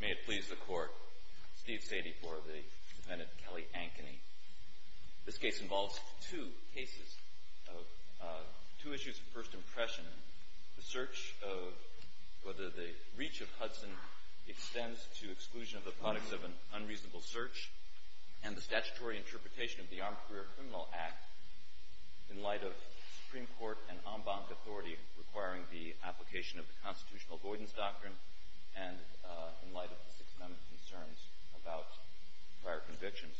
May it please the Court, Steve Sadie for the defendant, Kelly Ankeny. This case involves two cases, two issues of first impression. The search of whether the reach of Hudson extends to exclusion of the products of an unreasonable search and the statutory interpretation of the Armed Career Criminal Act in light of Supreme Court and en banc authority requiring the application of the constitutional avoidance doctrine and in light of the Sixth Amendment concerns about prior convictions.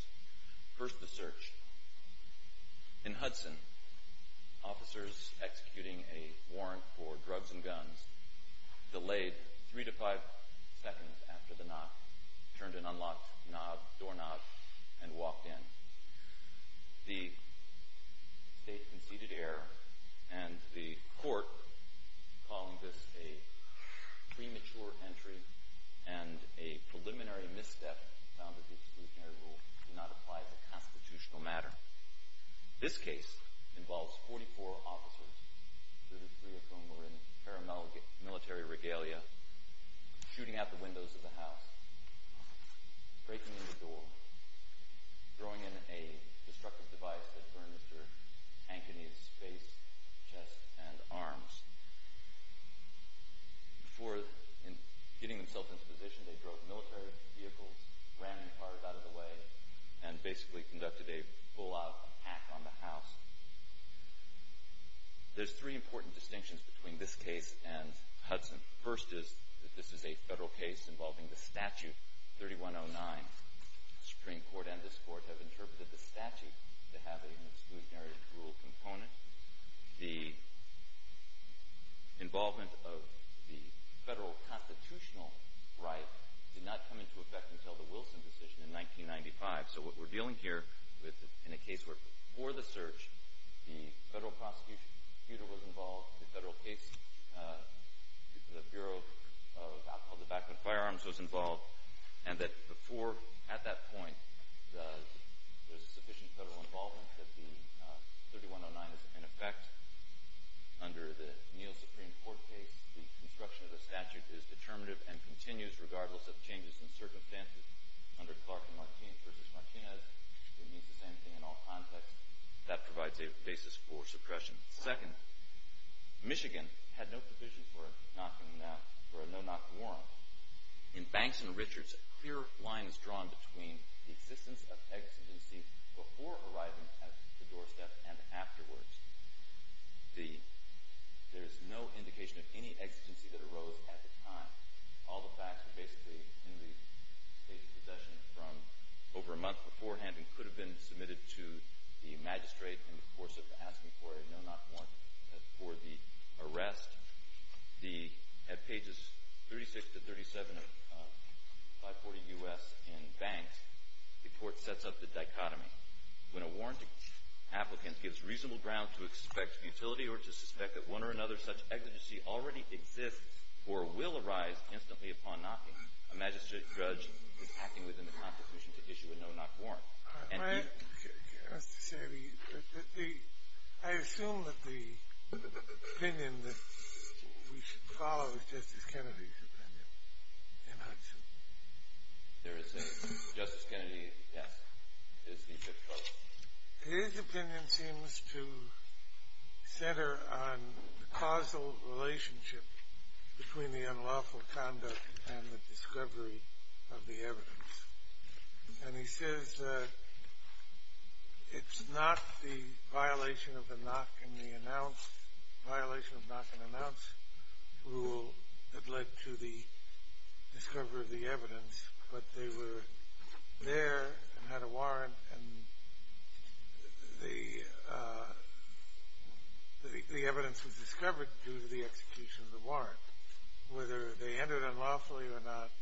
First, the search. In Hudson, officers executing a warrant for drugs and guns delayed three to five seconds after the knock, turned an unlocked knob, doorknob, and walked in. The state conceded error and the court calling this a premature entry and a preliminary misstep found that the exclusionary rule did not apply to constitutional matter. This case involves 44 officers, 33 of whom were in paramilitary regalia, shooting out the windows of the house, breaking in the door, throwing in a destructive device that burned Mr. Ankeny's face, chest, and arms. Before getting themselves into position, they drove military vehicles, ramming cars out of the way, and basically conducted a full-out attack on the house. There's three important distinctions between this case and a federal case involving the statute 3109. The Supreme Court and this Court have interpreted the statute to have an exclusionary rule component. The involvement of the federal constitutional right did not come into effect until the Wilson decision in 1995. So what we're dealing here with in a case where before the search, the federal prosecutor was involved, the federal case, the Bureau of the Backwood Firearms was involved, and that before, at that point, there's sufficient federal involvement that the 3109 is in effect. Under the Neal Supreme Court case, the construction of the statute is determinative and continues regardless of changes in circumstances. Under Clark v. Martinez, it means the same thing in all contexts. That provides a basis for suppression. Second, Michigan had no provision for a no-knock warrant. In Banks v. Richards, a clear line is drawn between the existence of exigency before arriving at the doorstep and afterwards. There is no indication of any exigency that arose at the time. All the facts are basically in the state's possession from over a month beforehand and could have been submitted to the magistrate in the course of asking for a no-knock warrant for the arrest. At pages 36 to 37 of 540 U.S. in Banks, the court sets up the dichotomy. When a warrant applicant gives reasonable ground to expect utility or to suspect that one or another such exigency already exists or will arise instantly upon knocking, a magistrate is acting within the constitution to issue a no-knock warrant. Mr. Kennedy, I assume that the opinion that we should follow is Justice Kennedy's opinion in Hudson. Justice Kennedy, yes. His opinion seems to center on the causal relationship between the unlawful conduct and the discovery of the evidence. And he says that it's not the violation of the knock and announce rule that led to the discovery of the evidence, but they were there and had a warrant and the evidence was discovered due to the execution of the warrant. Whether they entered unlawfully or not,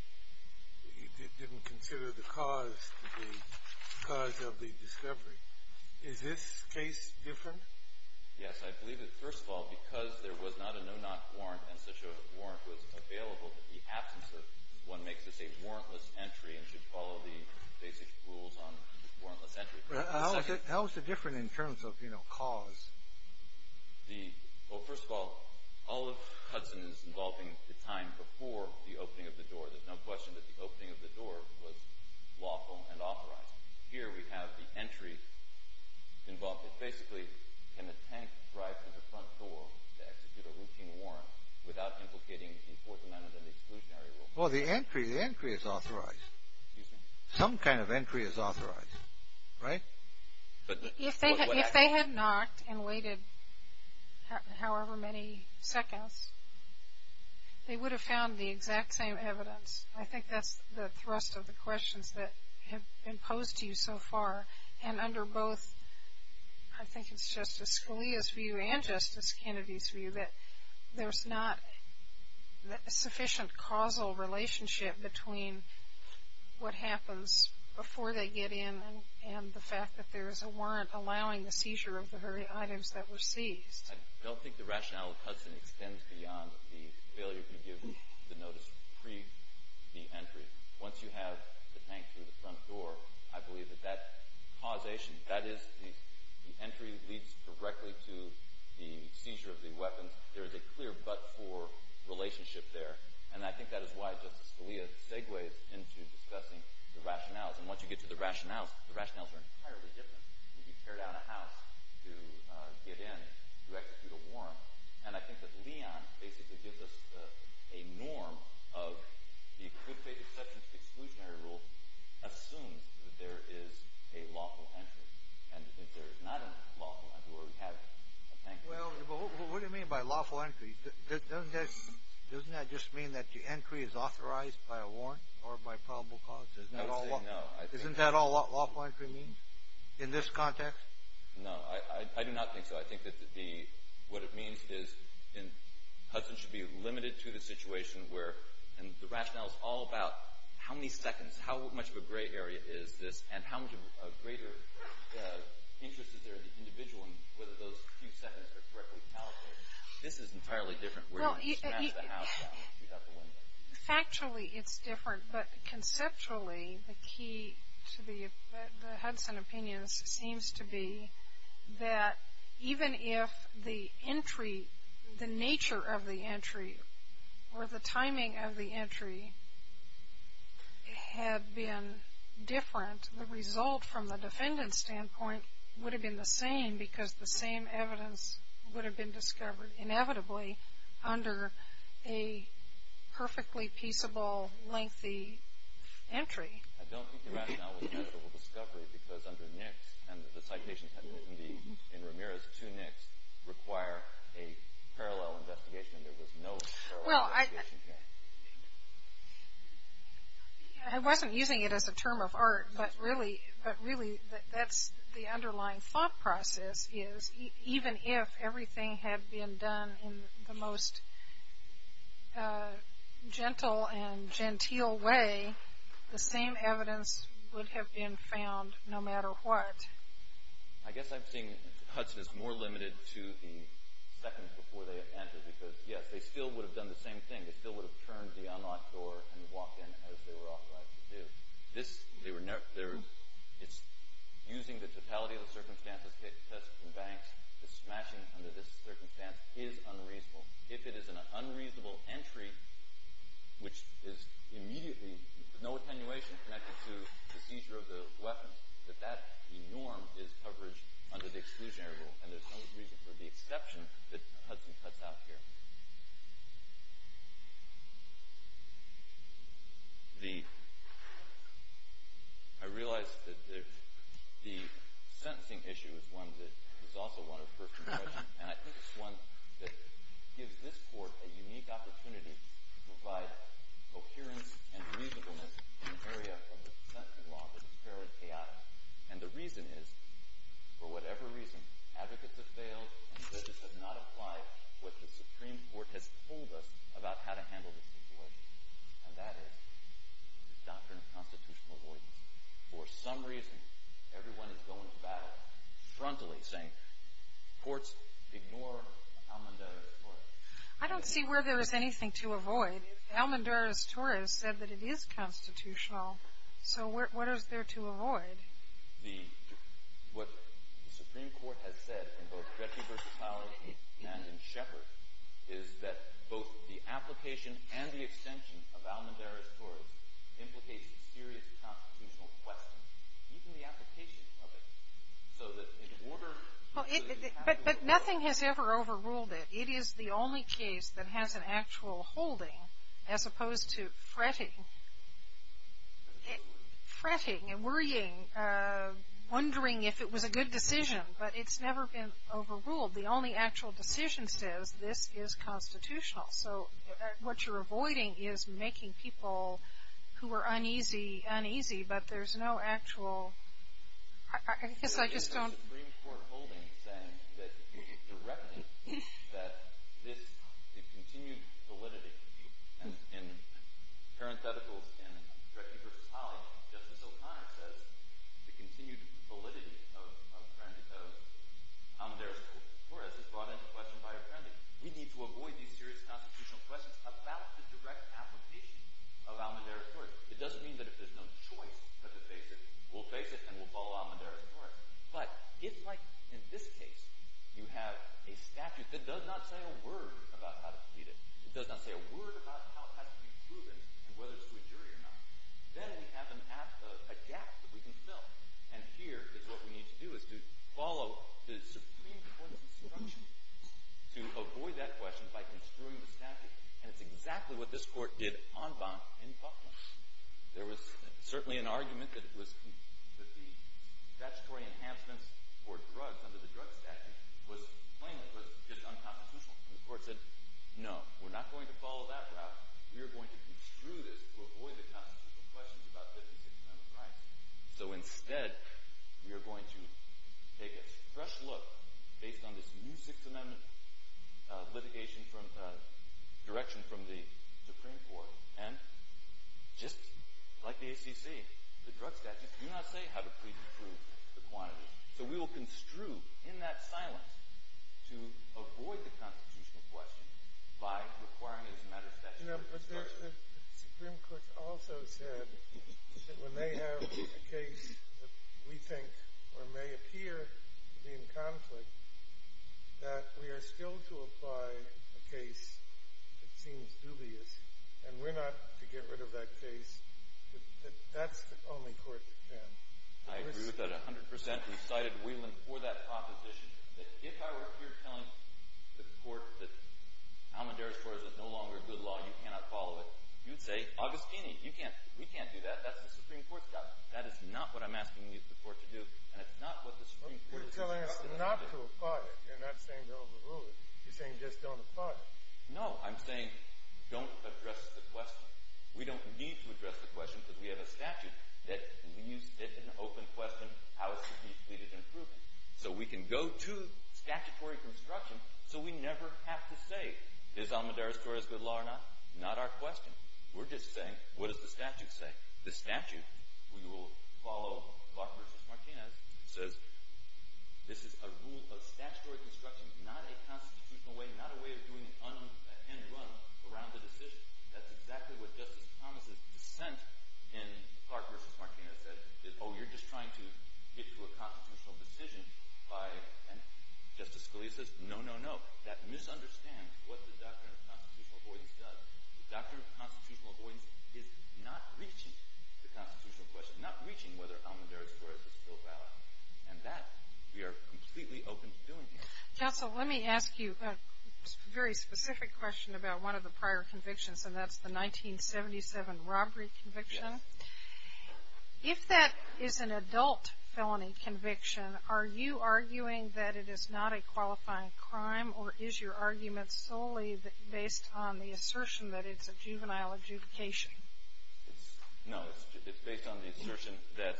he didn't consider the cause to be the cause of the discovery. Is this case different? Yes. I believe that, first of all, because there was not a no-knock warrant and such a warrant was available, that the absence of one makes this a warrantless entry and should follow the basic rules on warrantless entry. How is it different in terms of, you know, cause? Well, first of all, all of Hudson's involving the time before the opening of the door, there's no question that the opening of the door was lawful and authorized. Here we have the entry involved. It's basically, can a tank drive through the front door to execute a routine warrant without implicating the importance of an exclusionary rule? Well, the entry, the entry is authorized. Excuse me? Some kind of entry is authorized, right? If they had knocked and waited however many seconds, they would have found the exact same evidence. I think that's the thrust of the questions that have been posed to you so far and under both, I think it's Justice Scalia's view and Justice Kennedy's view that there's not a sufficient causal relationship between what happens before they get in and the fact that there is a warrant allowing the seizure of the very items that were seized. I don't think the rationale of Hudson extends beyond the failure to give the notice pre-entry. Once you have the tank through the front door, I believe that that causation, that is, the entry leads directly to the seizure of the weapons. There is a clear but-for relationship there, and I think that is why Justice Scalia segues into discussing the rationales, and once you get to the rationales, the rationales are entirely different. You tear down a house to get in to execute a warrant, and I think that Leon basically gives us a norm of the good faith exception to the exclusionary rule assumes that there is a lawful entry, and if there is not a lawful entry where we have a tank. Well, what do you mean by lawful entry? Doesn't that just mean that the entry is authorized by a warrant or by probable cause? I would say no. Isn't that all lawful entry means in this context? No, I do not think so. I think that what it means is Hudson should be limited to the situation where, and the rationale is all about how many seconds, how much of a gray area is this, and how much of a greater interest is there in the individual and whether those few seconds are correctly allocated. This is entirely different. We don't smash the house down and shoot out the window. Factually, it's different, but conceptually, the key to the Hudson opinions seems to be that even if the entry, the nature of the entry or the timing of the entry had been different, the result from the defendant's standpoint would have been the same because the same evidence would have been discovered inevitably under a perfectly peaceable, lengthy entry. I don't think the rationale was inevitable discovery because under NICS and the citations in Ramirez, two NICS require a parallel investigation. There was no parallel investigation. Well, I wasn't using it as a term of art, but really, that's the underlying thought process is even if everything had been done in the most gentle and genteel way, the same evidence would have been found no matter what. I guess I'm seeing Hudson as more limited to the seconds before they had entered because yes, they still would have done the same thing. They still would have turned the unlocked door and walked in as they were authorized to do. It's using the totality of the circumstances tested in Banks. The smashing under this circumstance is unreasonable. If it is an unreasonable entry, which is immediately with no attenuation connected to the seizure of the weapon, that that norm is covered under the exclusionary rule, and there's no reason for the exception that Hudson cuts out here. I realize that the sentencing issue is one that is also one of personal interest, and I think it's one that gives this court a unique opportunity to provide coherence and reasonableness in an area where the sentencing law is fairly chaotic. And the reason is, for whatever reason, advocates have failed and judges have not applied what the Supreme Court has told us about how to handle this situation, and that is the doctrine of constitutional avoidance. For some reason, everyone is going to battle frontally, saying courts, ignore Almonduras-Torres. I don't see where there is anything to avoid. Almonduras-Torres said that it is constitutional, so what is there to avoid? What the Supreme Court has said in both Gretchen v. Howard and in Shepard is that both the application and the extension of Almonduras-Torres implicates a serious constitutional question, even the application of it, so that in order to say that you have to avoid it. But nothing has ever overruled it. It is the only case that has an actual holding, as opposed to fretting and worrying, wondering if it was a good decision. But it's never been overruled. The only actual decision says this is constitutional. So what you're avoiding is making people who are uneasy uneasy, but there's no actual. I guess I just don't. The Supreme Court holding saying that you're directing that this continued validity, and parentheticals in Gretchen v. Howard, Justice O'Connor says the continued validity of Almonduras-Torres is brought into question by a friend. We need to avoid these serious constitutional questions about the direct application of Almonduras-Torres. It doesn't mean that if there's no choice but to face it, we'll face it and we'll follow Almonduras-Torres. But if, like in this case, you have a statute that does not say a word about how to plead it, it does not say a word about how it has to be proven and whether it's to a jury or not, then we have a gap that we can fill. And here is what we need to do is to follow the Supreme Court's instructions to avoid that question by construing the statute. And it's exactly what this Court did en banc in Buckland. There was certainly an argument that the statutory enhancements for drugs under the Drugs Act was plain, was just unconstitutional. And the Court said, no, we're not going to follow that route. We are going to construe this to avoid the constitutional questions about 56th Amendment rights. So instead, we are going to take a fresh look, based on this new Sixth Amendment litigation direction from the Supreme Court, and just like the ACC, the drug statutes do not say how to plead to prove the quantity. So we will construe, in that silence, to avoid the constitutional question by requiring it as a matter of statute. You know, but the Supreme Court also said that when they have a case that we think or may appear to be in conflict, that we are still to apply a case that seems dubious, and we're not to get rid of that case, that that's the only court that can. I agree with that 100 percent. We cited Whelan for that proposition. If I were here telling the Court that Almedara's Court is no longer a good law, you cannot follow it, you'd say, Agostini, you can't, we can't do that. That's the Supreme Court's job. That is not what I'm asking you, the Court, to do, and it's not what the Supreme Court is asking us to do. You're telling us not to apply it. You're not saying to overrule it. You're saying just don't apply it. No, I'm saying don't address the question. We don't need to address the question, because we have a statute that we use if in an open question, how is to plead it and prove it. So we can go to statutory construction, so we never have to say, is Almedara's Court a good law or not? Not our question. We're just saying, what does the statute say? The statute, we will follow Clark v. Martinez, says this is a rule of statutory construction, not a constitutional way, not a way of doing an end run around the decision. That's exactly what Justice Thomas' dissent in Clark v. Martinez said, that, oh, you're just trying to get to a constitutional decision by, and Justice Scalia says, no, no, no. That misunderstands what the doctrine of constitutional avoidance does. The doctrine of constitutional avoidance is not reaching the constitutional question, not reaching whether Almedara's Court is a still valid. And that, we are completely open to doing here. MS. GOTTLIEB Council, let me ask you a very specific question about one of the prior convictions, and that's the 1977 robbery conviction. If that is an adult felony conviction, are you arguing that it is not a qualifying crime, or is your argument solely based on the assertion that it's a juvenile adjudication? LOGSDON No. It's based on the assertion that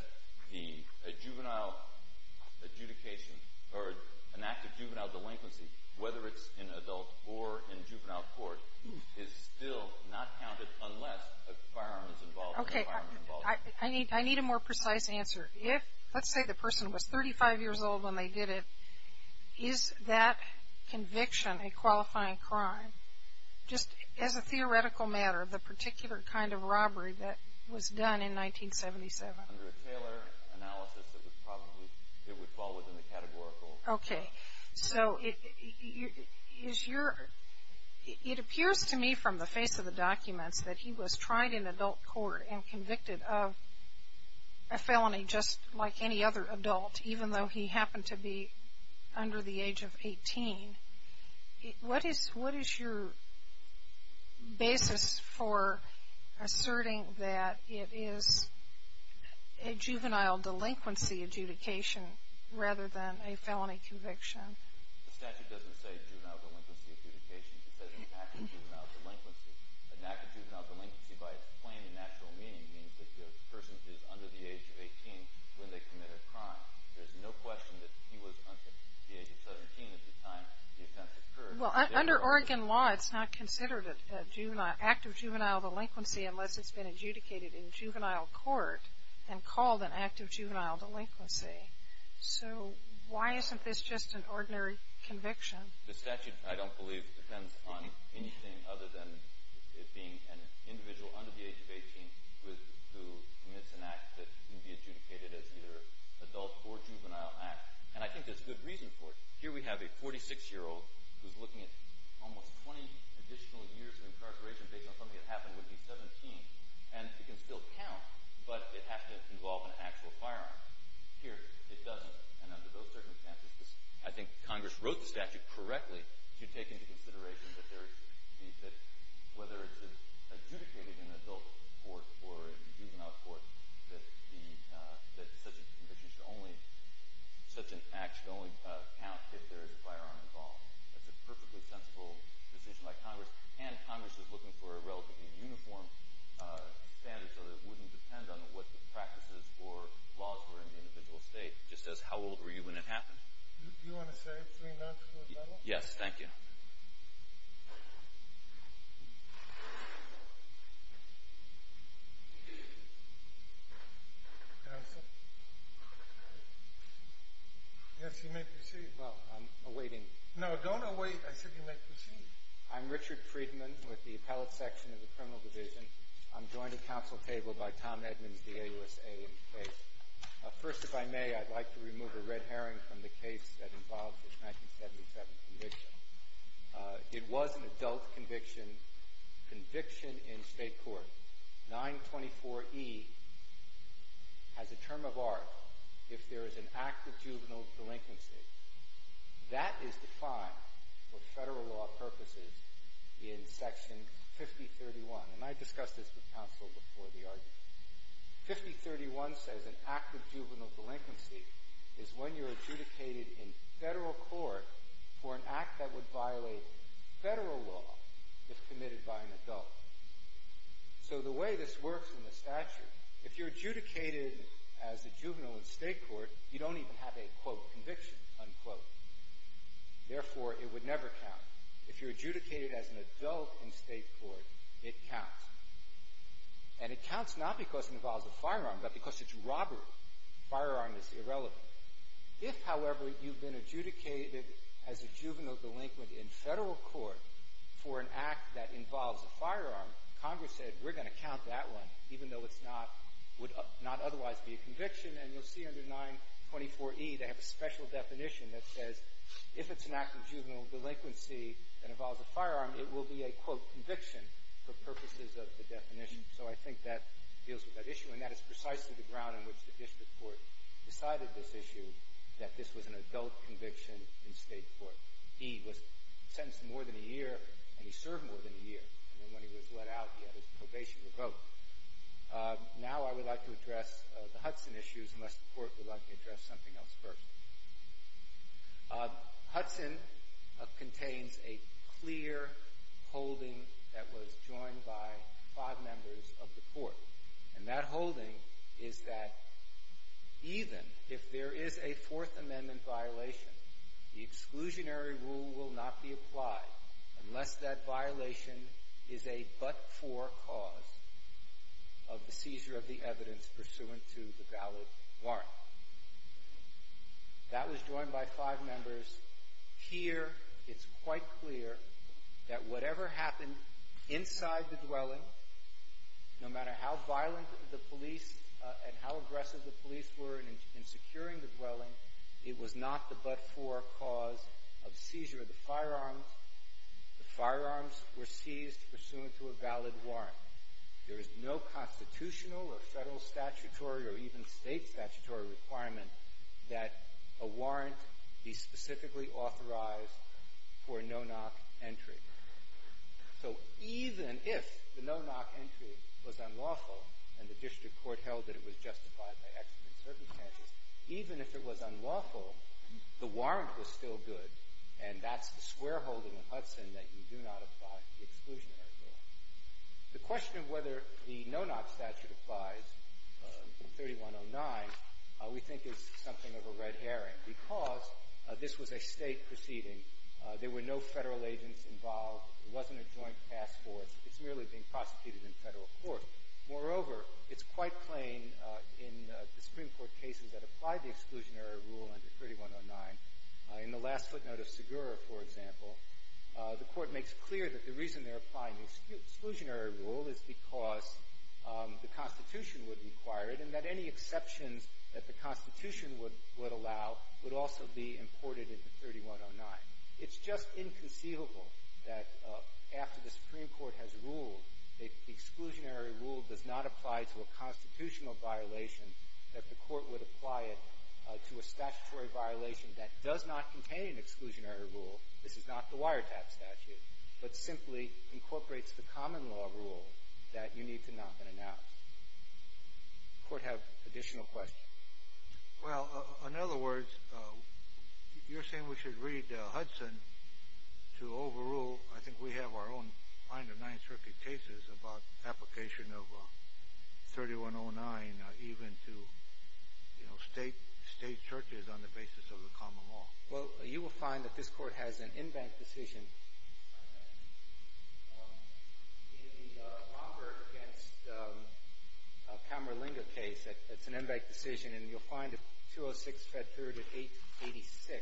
the juvenile adjudication or an act of juvenile delinquency, whether it's in adult or in juvenile court, is still not counted unless a firearm is involved. MS. I need a more precise answer. If, let's say the person was 35 years old when they did it, is that conviction a qualifying crime, just as a theoretical matter, the particular kind of robbery that was done in 1977? LOGSDON Under a Taylor analysis, it would probably fall within the categorical. MS. GOTTLIEB Okay. So is your, it appears to me from the face of the documents that he was tried in adult court and convicted of a felony just like any other adult, even though he happened to be under the age of 18. What is your basis for asserting that it is a juvenile delinquency adjudication rather than a felony conviction? LOGSDON The statute doesn't say juvenile delinquency adjudication. It says an act of juvenile delinquency. An act of juvenile delinquency, by its plain and natural meaning, means that the person is under the age of 18 when they commit a crime. There's no question that he was under the age of 17 at the time the offense occurred. MS. GOTTLIEB Well, under Oregon law, it's not considered an act of juvenile delinquency unless it's been adjudicated in juvenile court and called an act of juvenile delinquency. So why isn't this just an ordinary conviction? LOGSDON The statute, I don't believe, depends on anything other than it being an individual under the age of 18 who commits an act that can be adjudicated as either adult or juvenile act. And I think there's good reason for it. Here we have a 46-year-old who's looking at almost 20 additional years of incarceration based on something that happened when he was 17. And it can still count, but it has to involve an actual firearm. Here it doesn't. And under those circumstances, I think Congress wrote the statute correctly to take into consideration that whether it's adjudicated in adult court or in juvenile court, that such a conviction should only count if there is a firearm involved. That's a perfectly sensible decision by Congress, and Congress is looking for a relatively uniform standard so that it wouldn't depend on what the practices or laws were in the individual state. It just says how old were you when it happened. Do you want to say three months or a little? Yes, thank you. Counsel? Yes, you may proceed. Well, I'm awaiting. No, don't await. I said you may proceed. I'm Richard Friedman with the Appellate Section of the Criminal Division. First, if I may, I'd like to remove a red herring from the case that involves this 1977 conviction. It was an adult conviction, conviction in state court. 924E has a term of art if there is an act of juvenile delinquency. That is defined for federal law purposes in Section 5031, and I discussed this with counsel before the argument. 5031 says an act of juvenile delinquency is when you're adjudicated in federal court for an act that would violate federal law if committed by an adult. So the way this works in the statute, if you're adjudicated as a juvenile in state court, you don't even have a, quote, conviction, unquote. Therefore, it would never count. If you're adjudicated as an adult in state court, it counts. And it counts not because it involves a firearm, but because it's robbery. Firearm is irrelevant. If, however, you've been adjudicated as a juvenile delinquent in federal court for an act that involves a firearm, Congress said we're going to count that one, even though it's not, would not otherwise be a conviction. And you'll see under 924E they have a special definition that says if it's an act of juvenile delinquency that involves a firearm, it will be a, quote, conviction for purposes of the definition. So I think that deals with that issue, and that is precisely the ground on which the district court decided this issue, that this was an adult conviction in state court. He was sentenced more than a year, and he served more than a year. And then when he was let out, he had his probation revoked. Now I would like to address the Hudson issues, unless the court would like to address something else first. Hudson contains a clear holding that was joined by five members of the court, and that holding is that even if there is a Fourth Amendment violation, the exclusionary rule will not be applied unless that violation is a but-for cause of the seizure of the evidence pursuant to the valid warrant. That was joined by five members. Here it's quite clear that whatever happened inside the dwelling, no matter how violent the police and how aggressive the police were in securing the dwelling, it was not the but-for cause of seizure of the firearms. The firearms were seized pursuant to a valid warrant. There is no constitutional or federal statutory or even state statutory requirement that a warrant be specifically authorized for a no-knock entry. So even if the no-knock entry was unlawful and the district court held that it was justified by accident circumstances, even if it was unlawful, the warrant was still good, and that's the square holding in Hudson that you do not apply the exclusionary rule. The question of whether the no-knock statute applies in 3109 we think is something of a red herring because this was a State proceeding. There were no Federal agents involved. It wasn't a joint task force. It's merely being prosecuted in Federal court. Moreover, it's quite plain in the Supreme Court cases that apply the exclusionary rule under 3109. In the last footnote of Segura, for example, the Court makes clear that the reason they're applying the exclusionary rule is because the Constitution would require it and that any exceptions that the Constitution would allow would also be imported into 3109. It's just inconceivable that after the Supreme Court has ruled that the exclusionary rule does not apply to a constitutional violation, that the Court would apply it to a statutory violation that does not contain an exclusionary rule. This is not the wiretap statute, but simply incorporates the common law rule that you need to knock and announce. Does the Court have additional questions? Well, in other words, you're saying we should read Hudson to overrule. I think we have our own kind of Ninth Circuit cases about application of 3109 even to, you know, State churches on the basis of the common law. Well, you will find that this Court has an embanked decision. In the Romberg v. Camerlingo case, it's an embanked decision, and you'll find a 206 Fed period of 886.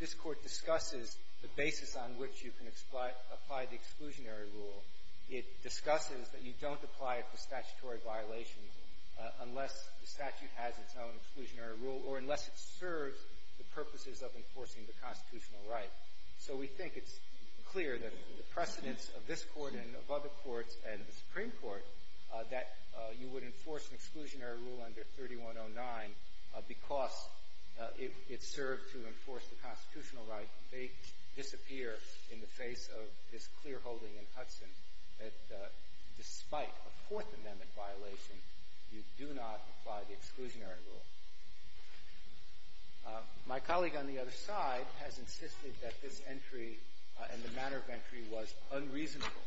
This Court discusses the basis on which you can apply the exclusionary rule. It discusses that you don't apply it to statutory violations unless the statute has its own exclusionary rule or unless it serves the purposes of enforcing the constitutional right. So we think it's clear that the precedence of this Court and of other courts and the Supreme Court that you would enforce an exclusionary rule under 3109 because it served to enforce the constitutional right may disappear in the face of this clearholding in Hudson that despite a Fourth Amendment violation, you do not apply the exclusionary rule. My colleague on the other side has insisted that this entry and the manner of entry was unreasonable.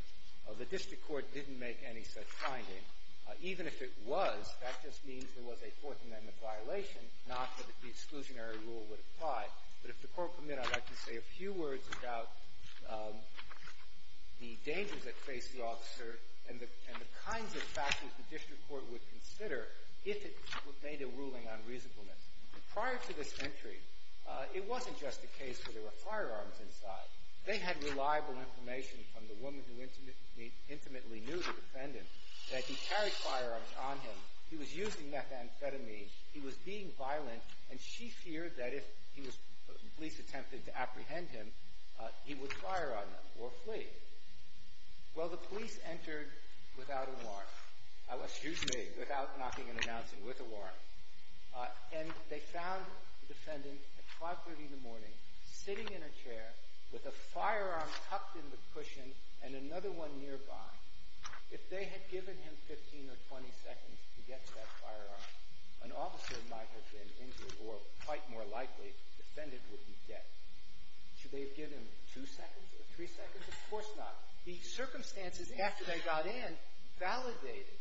The district court didn't make any such finding. Even if it was, that just means there was a Fourth Amendment violation, not that the exclusionary rule would apply. But if the Court permit, I'd like to say a few words about the dangers that face the officer and the kinds of factors the district court would consider if it made a ruling on reasonableness. Prior to this entry, it wasn't just a case where there were firearms inside. They had reliable information from the woman who intimately knew the defendant that he carried firearms on him, he was using methamphetamine, he was being violent, and she feared that if police attempted to apprehend him, he would fire on them or flee. Well, the police entered without a warrant, excuse me, without knocking and announcing, with a warrant, and they found the defendant at 530 in the morning sitting in a chair with a firearm tucked in the cushion and another one nearby. If they had given him 15 or 20 seconds to get to that firearm, an officer might have been injured or, quite more likely, the defendant would be dead. Should they have given him two seconds or three seconds? Of course not. The circumstances after they got in validated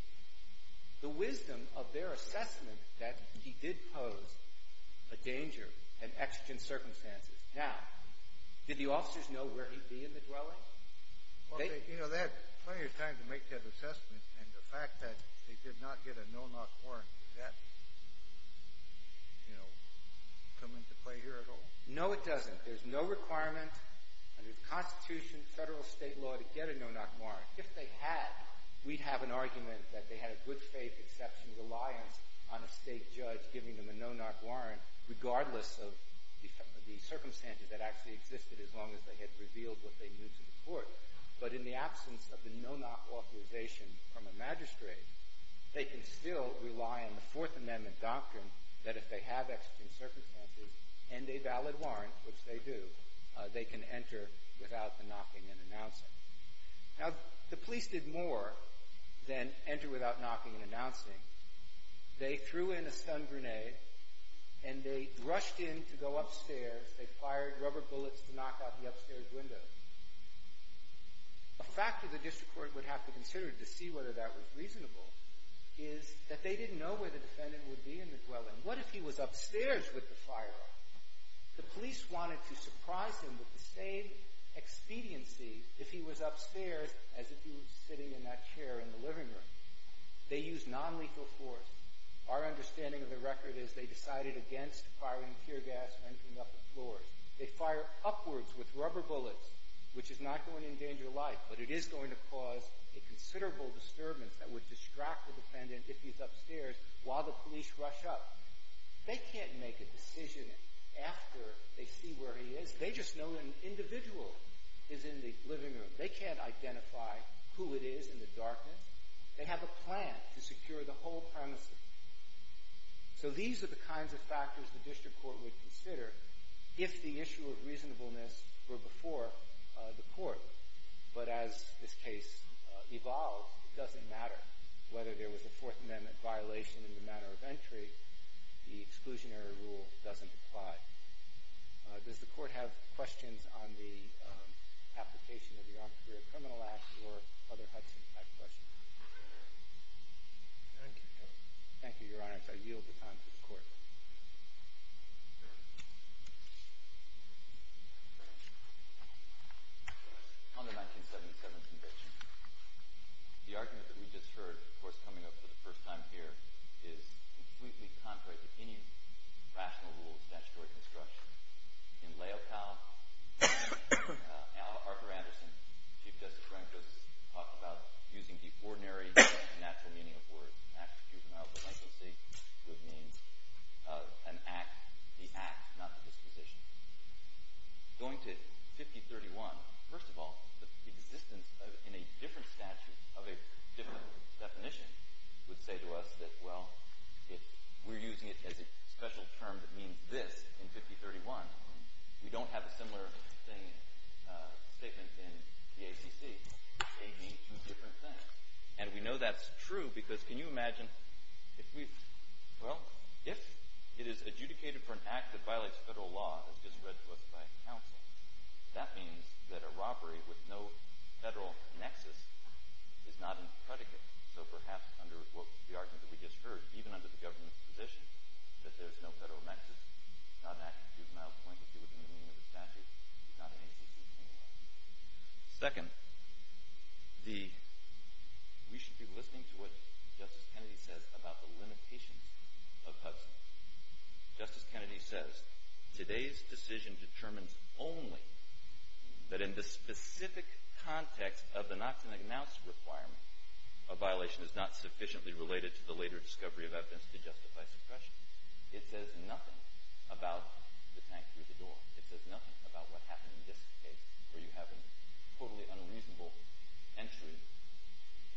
the wisdom of their assessment that he did pose a danger and extant circumstances. Now, did the officers know where he'd be in the dwelling? Well, they had plenty of time to make that assessment, and the fact that they did not get a no-knock warrant, does that, you know, come into play here at all? No, it doesn't. There's no requirement under the Constitution, federal or state law, to get a no-knock warrant. If they had, we'd have an argument that they had a good-faith exceptions alliance on a state judge giving them a no-knock warrant regardless of the circumstances that actually existed as long as they had revealed what they knew to the court. But in the absence of the no-knock authorization from a magistrate, they can still rely on the Fourth Amendment doctrine that if they have extant circumstances and a valid warrant, which they do, they can enter without the knocking and announcing. Now, the police did more than enter without knocking and announcing. They threw in a stun grenade, and they rushed in to go upstairs. They fired rubber bullets to knock out the upstairs window. A factor the district court would have to consider to see whether that was reasonable is that they didn't know where the defendant would be in the dwelling. What if he was upstairs with the fire? The police wanted to surprise him with the same expediency if he was upstairs as if he was sitting in that chair in the living room. They used nonlethal force. Our understanding of the record is they decided against firing tear gas and entering up the floors. They fired upwards with rubber bullets, which is not going to endanger life, but it is going to cause a considerable disturbance that would distract the defendant if he's upstairs while the police rush up. They can't make a decision after they see where he is. They just know an individual is in the living room. They can't identify who it is in the darkness. They have a plan to secure the whole premises. So these are the kinds of factors the district court would consider if the issue of reasonableness were before the court. But as this case evolves, it doesn't matter whether there was a Fourth Amendment violation in the matter of entry. The exclusionary rule doesn't apply. Does the court have questions on the application of the Armed Career Criminal Act or other types of questions? Thank you. Thank you, Your Honor. I yield the time to the court. On the 1977 conviction, the argument that we just heard, of course, coming up for the first time here, is completely contrary to any rational rule of statutory construction. In Laocoon, Arthur Anderson, Chief Justice Frank Joseph, talked about using the ordinary natural meaning of words. Natural, juvenile, delinquency, good means, an act, the act, not the disposition. Going to 5031, first of all, the existence in a different statute of a different definition would say to us that, well, if we're using it as a special term that means this in 5031, we don't have a similar statement in the ACC. They mean two different things. And we know that's true because can you imagine if we've, well, if it is adjudicated for an act that violates federal law as just read to us by counsel, that means that a robbery with no federal nexus is not impredicate. So perhaps under the argument that we just heard, even under the government's position, that there's no federal nexus, not an act of juvenile delinquency within the meaning of the statute, is not in ACC anymore. Second, we should be listening to what Justice Kennedy says about the limitations of PUDSMA. Justice Kennedy says, today's decision determines only that in the specific context of the Knox and Agnowski requirement, a violation is not sufficiently related to the later discovery of evidence to justify suppression. It says nothing about the tank through the door. It says nothing about what happened in this case where you have a totally unreasonable entry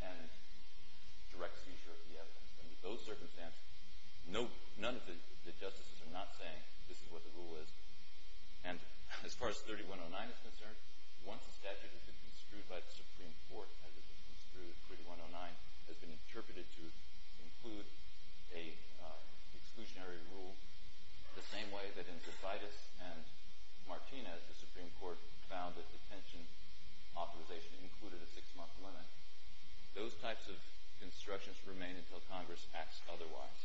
and direct seizure of the evidence. Under those circumstances, none of the justices are not saying this is what the rule is. And as far as 3109 is concerned, once a statute has been construed by the Supreme Court as it was construed, 3109 has been interpreted to include an exclusionary rule the same way that in DeVitus and Martinez, the Supreme Court found that detention authorization included a six-month limit. Those types of constructions remain until Congress acts otherwise.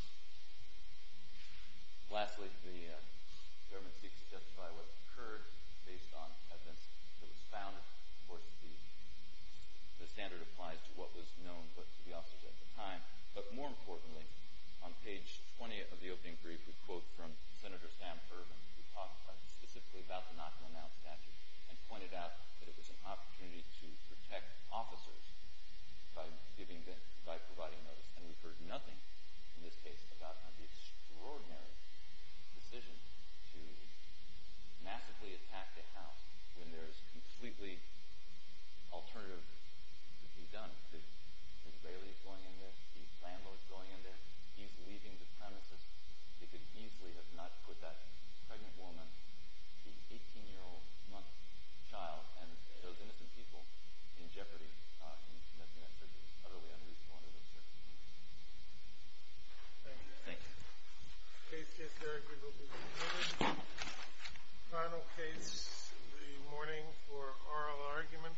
Lastly, the government seeks to justify what occurred based on evidence that was found. Of course, the standard applies to what was known to the officers at the time. But more importantly, on page 20 of the opening brief, we quote from Senator Sam Ervin, who talked specifically about the Knox and Agnowski statute and pointed out that it was an opportunity to protect officers by providing notice. And we've heard nothing in this case about the extraordinary decision to massively attack the house when there is completely alternative to be done. Mr. Bailey is going in there. The landlord is going in there. He's leaving the premises. He could easily have not put that pregnant woman, the 18-year-old month child, and those innocent people in jeopardy. And that's why I said he was utterly unreasonable under those circumstances. Thank you. Thank you. Case, case, your argument will be considered. Final case, the morning for oral argument.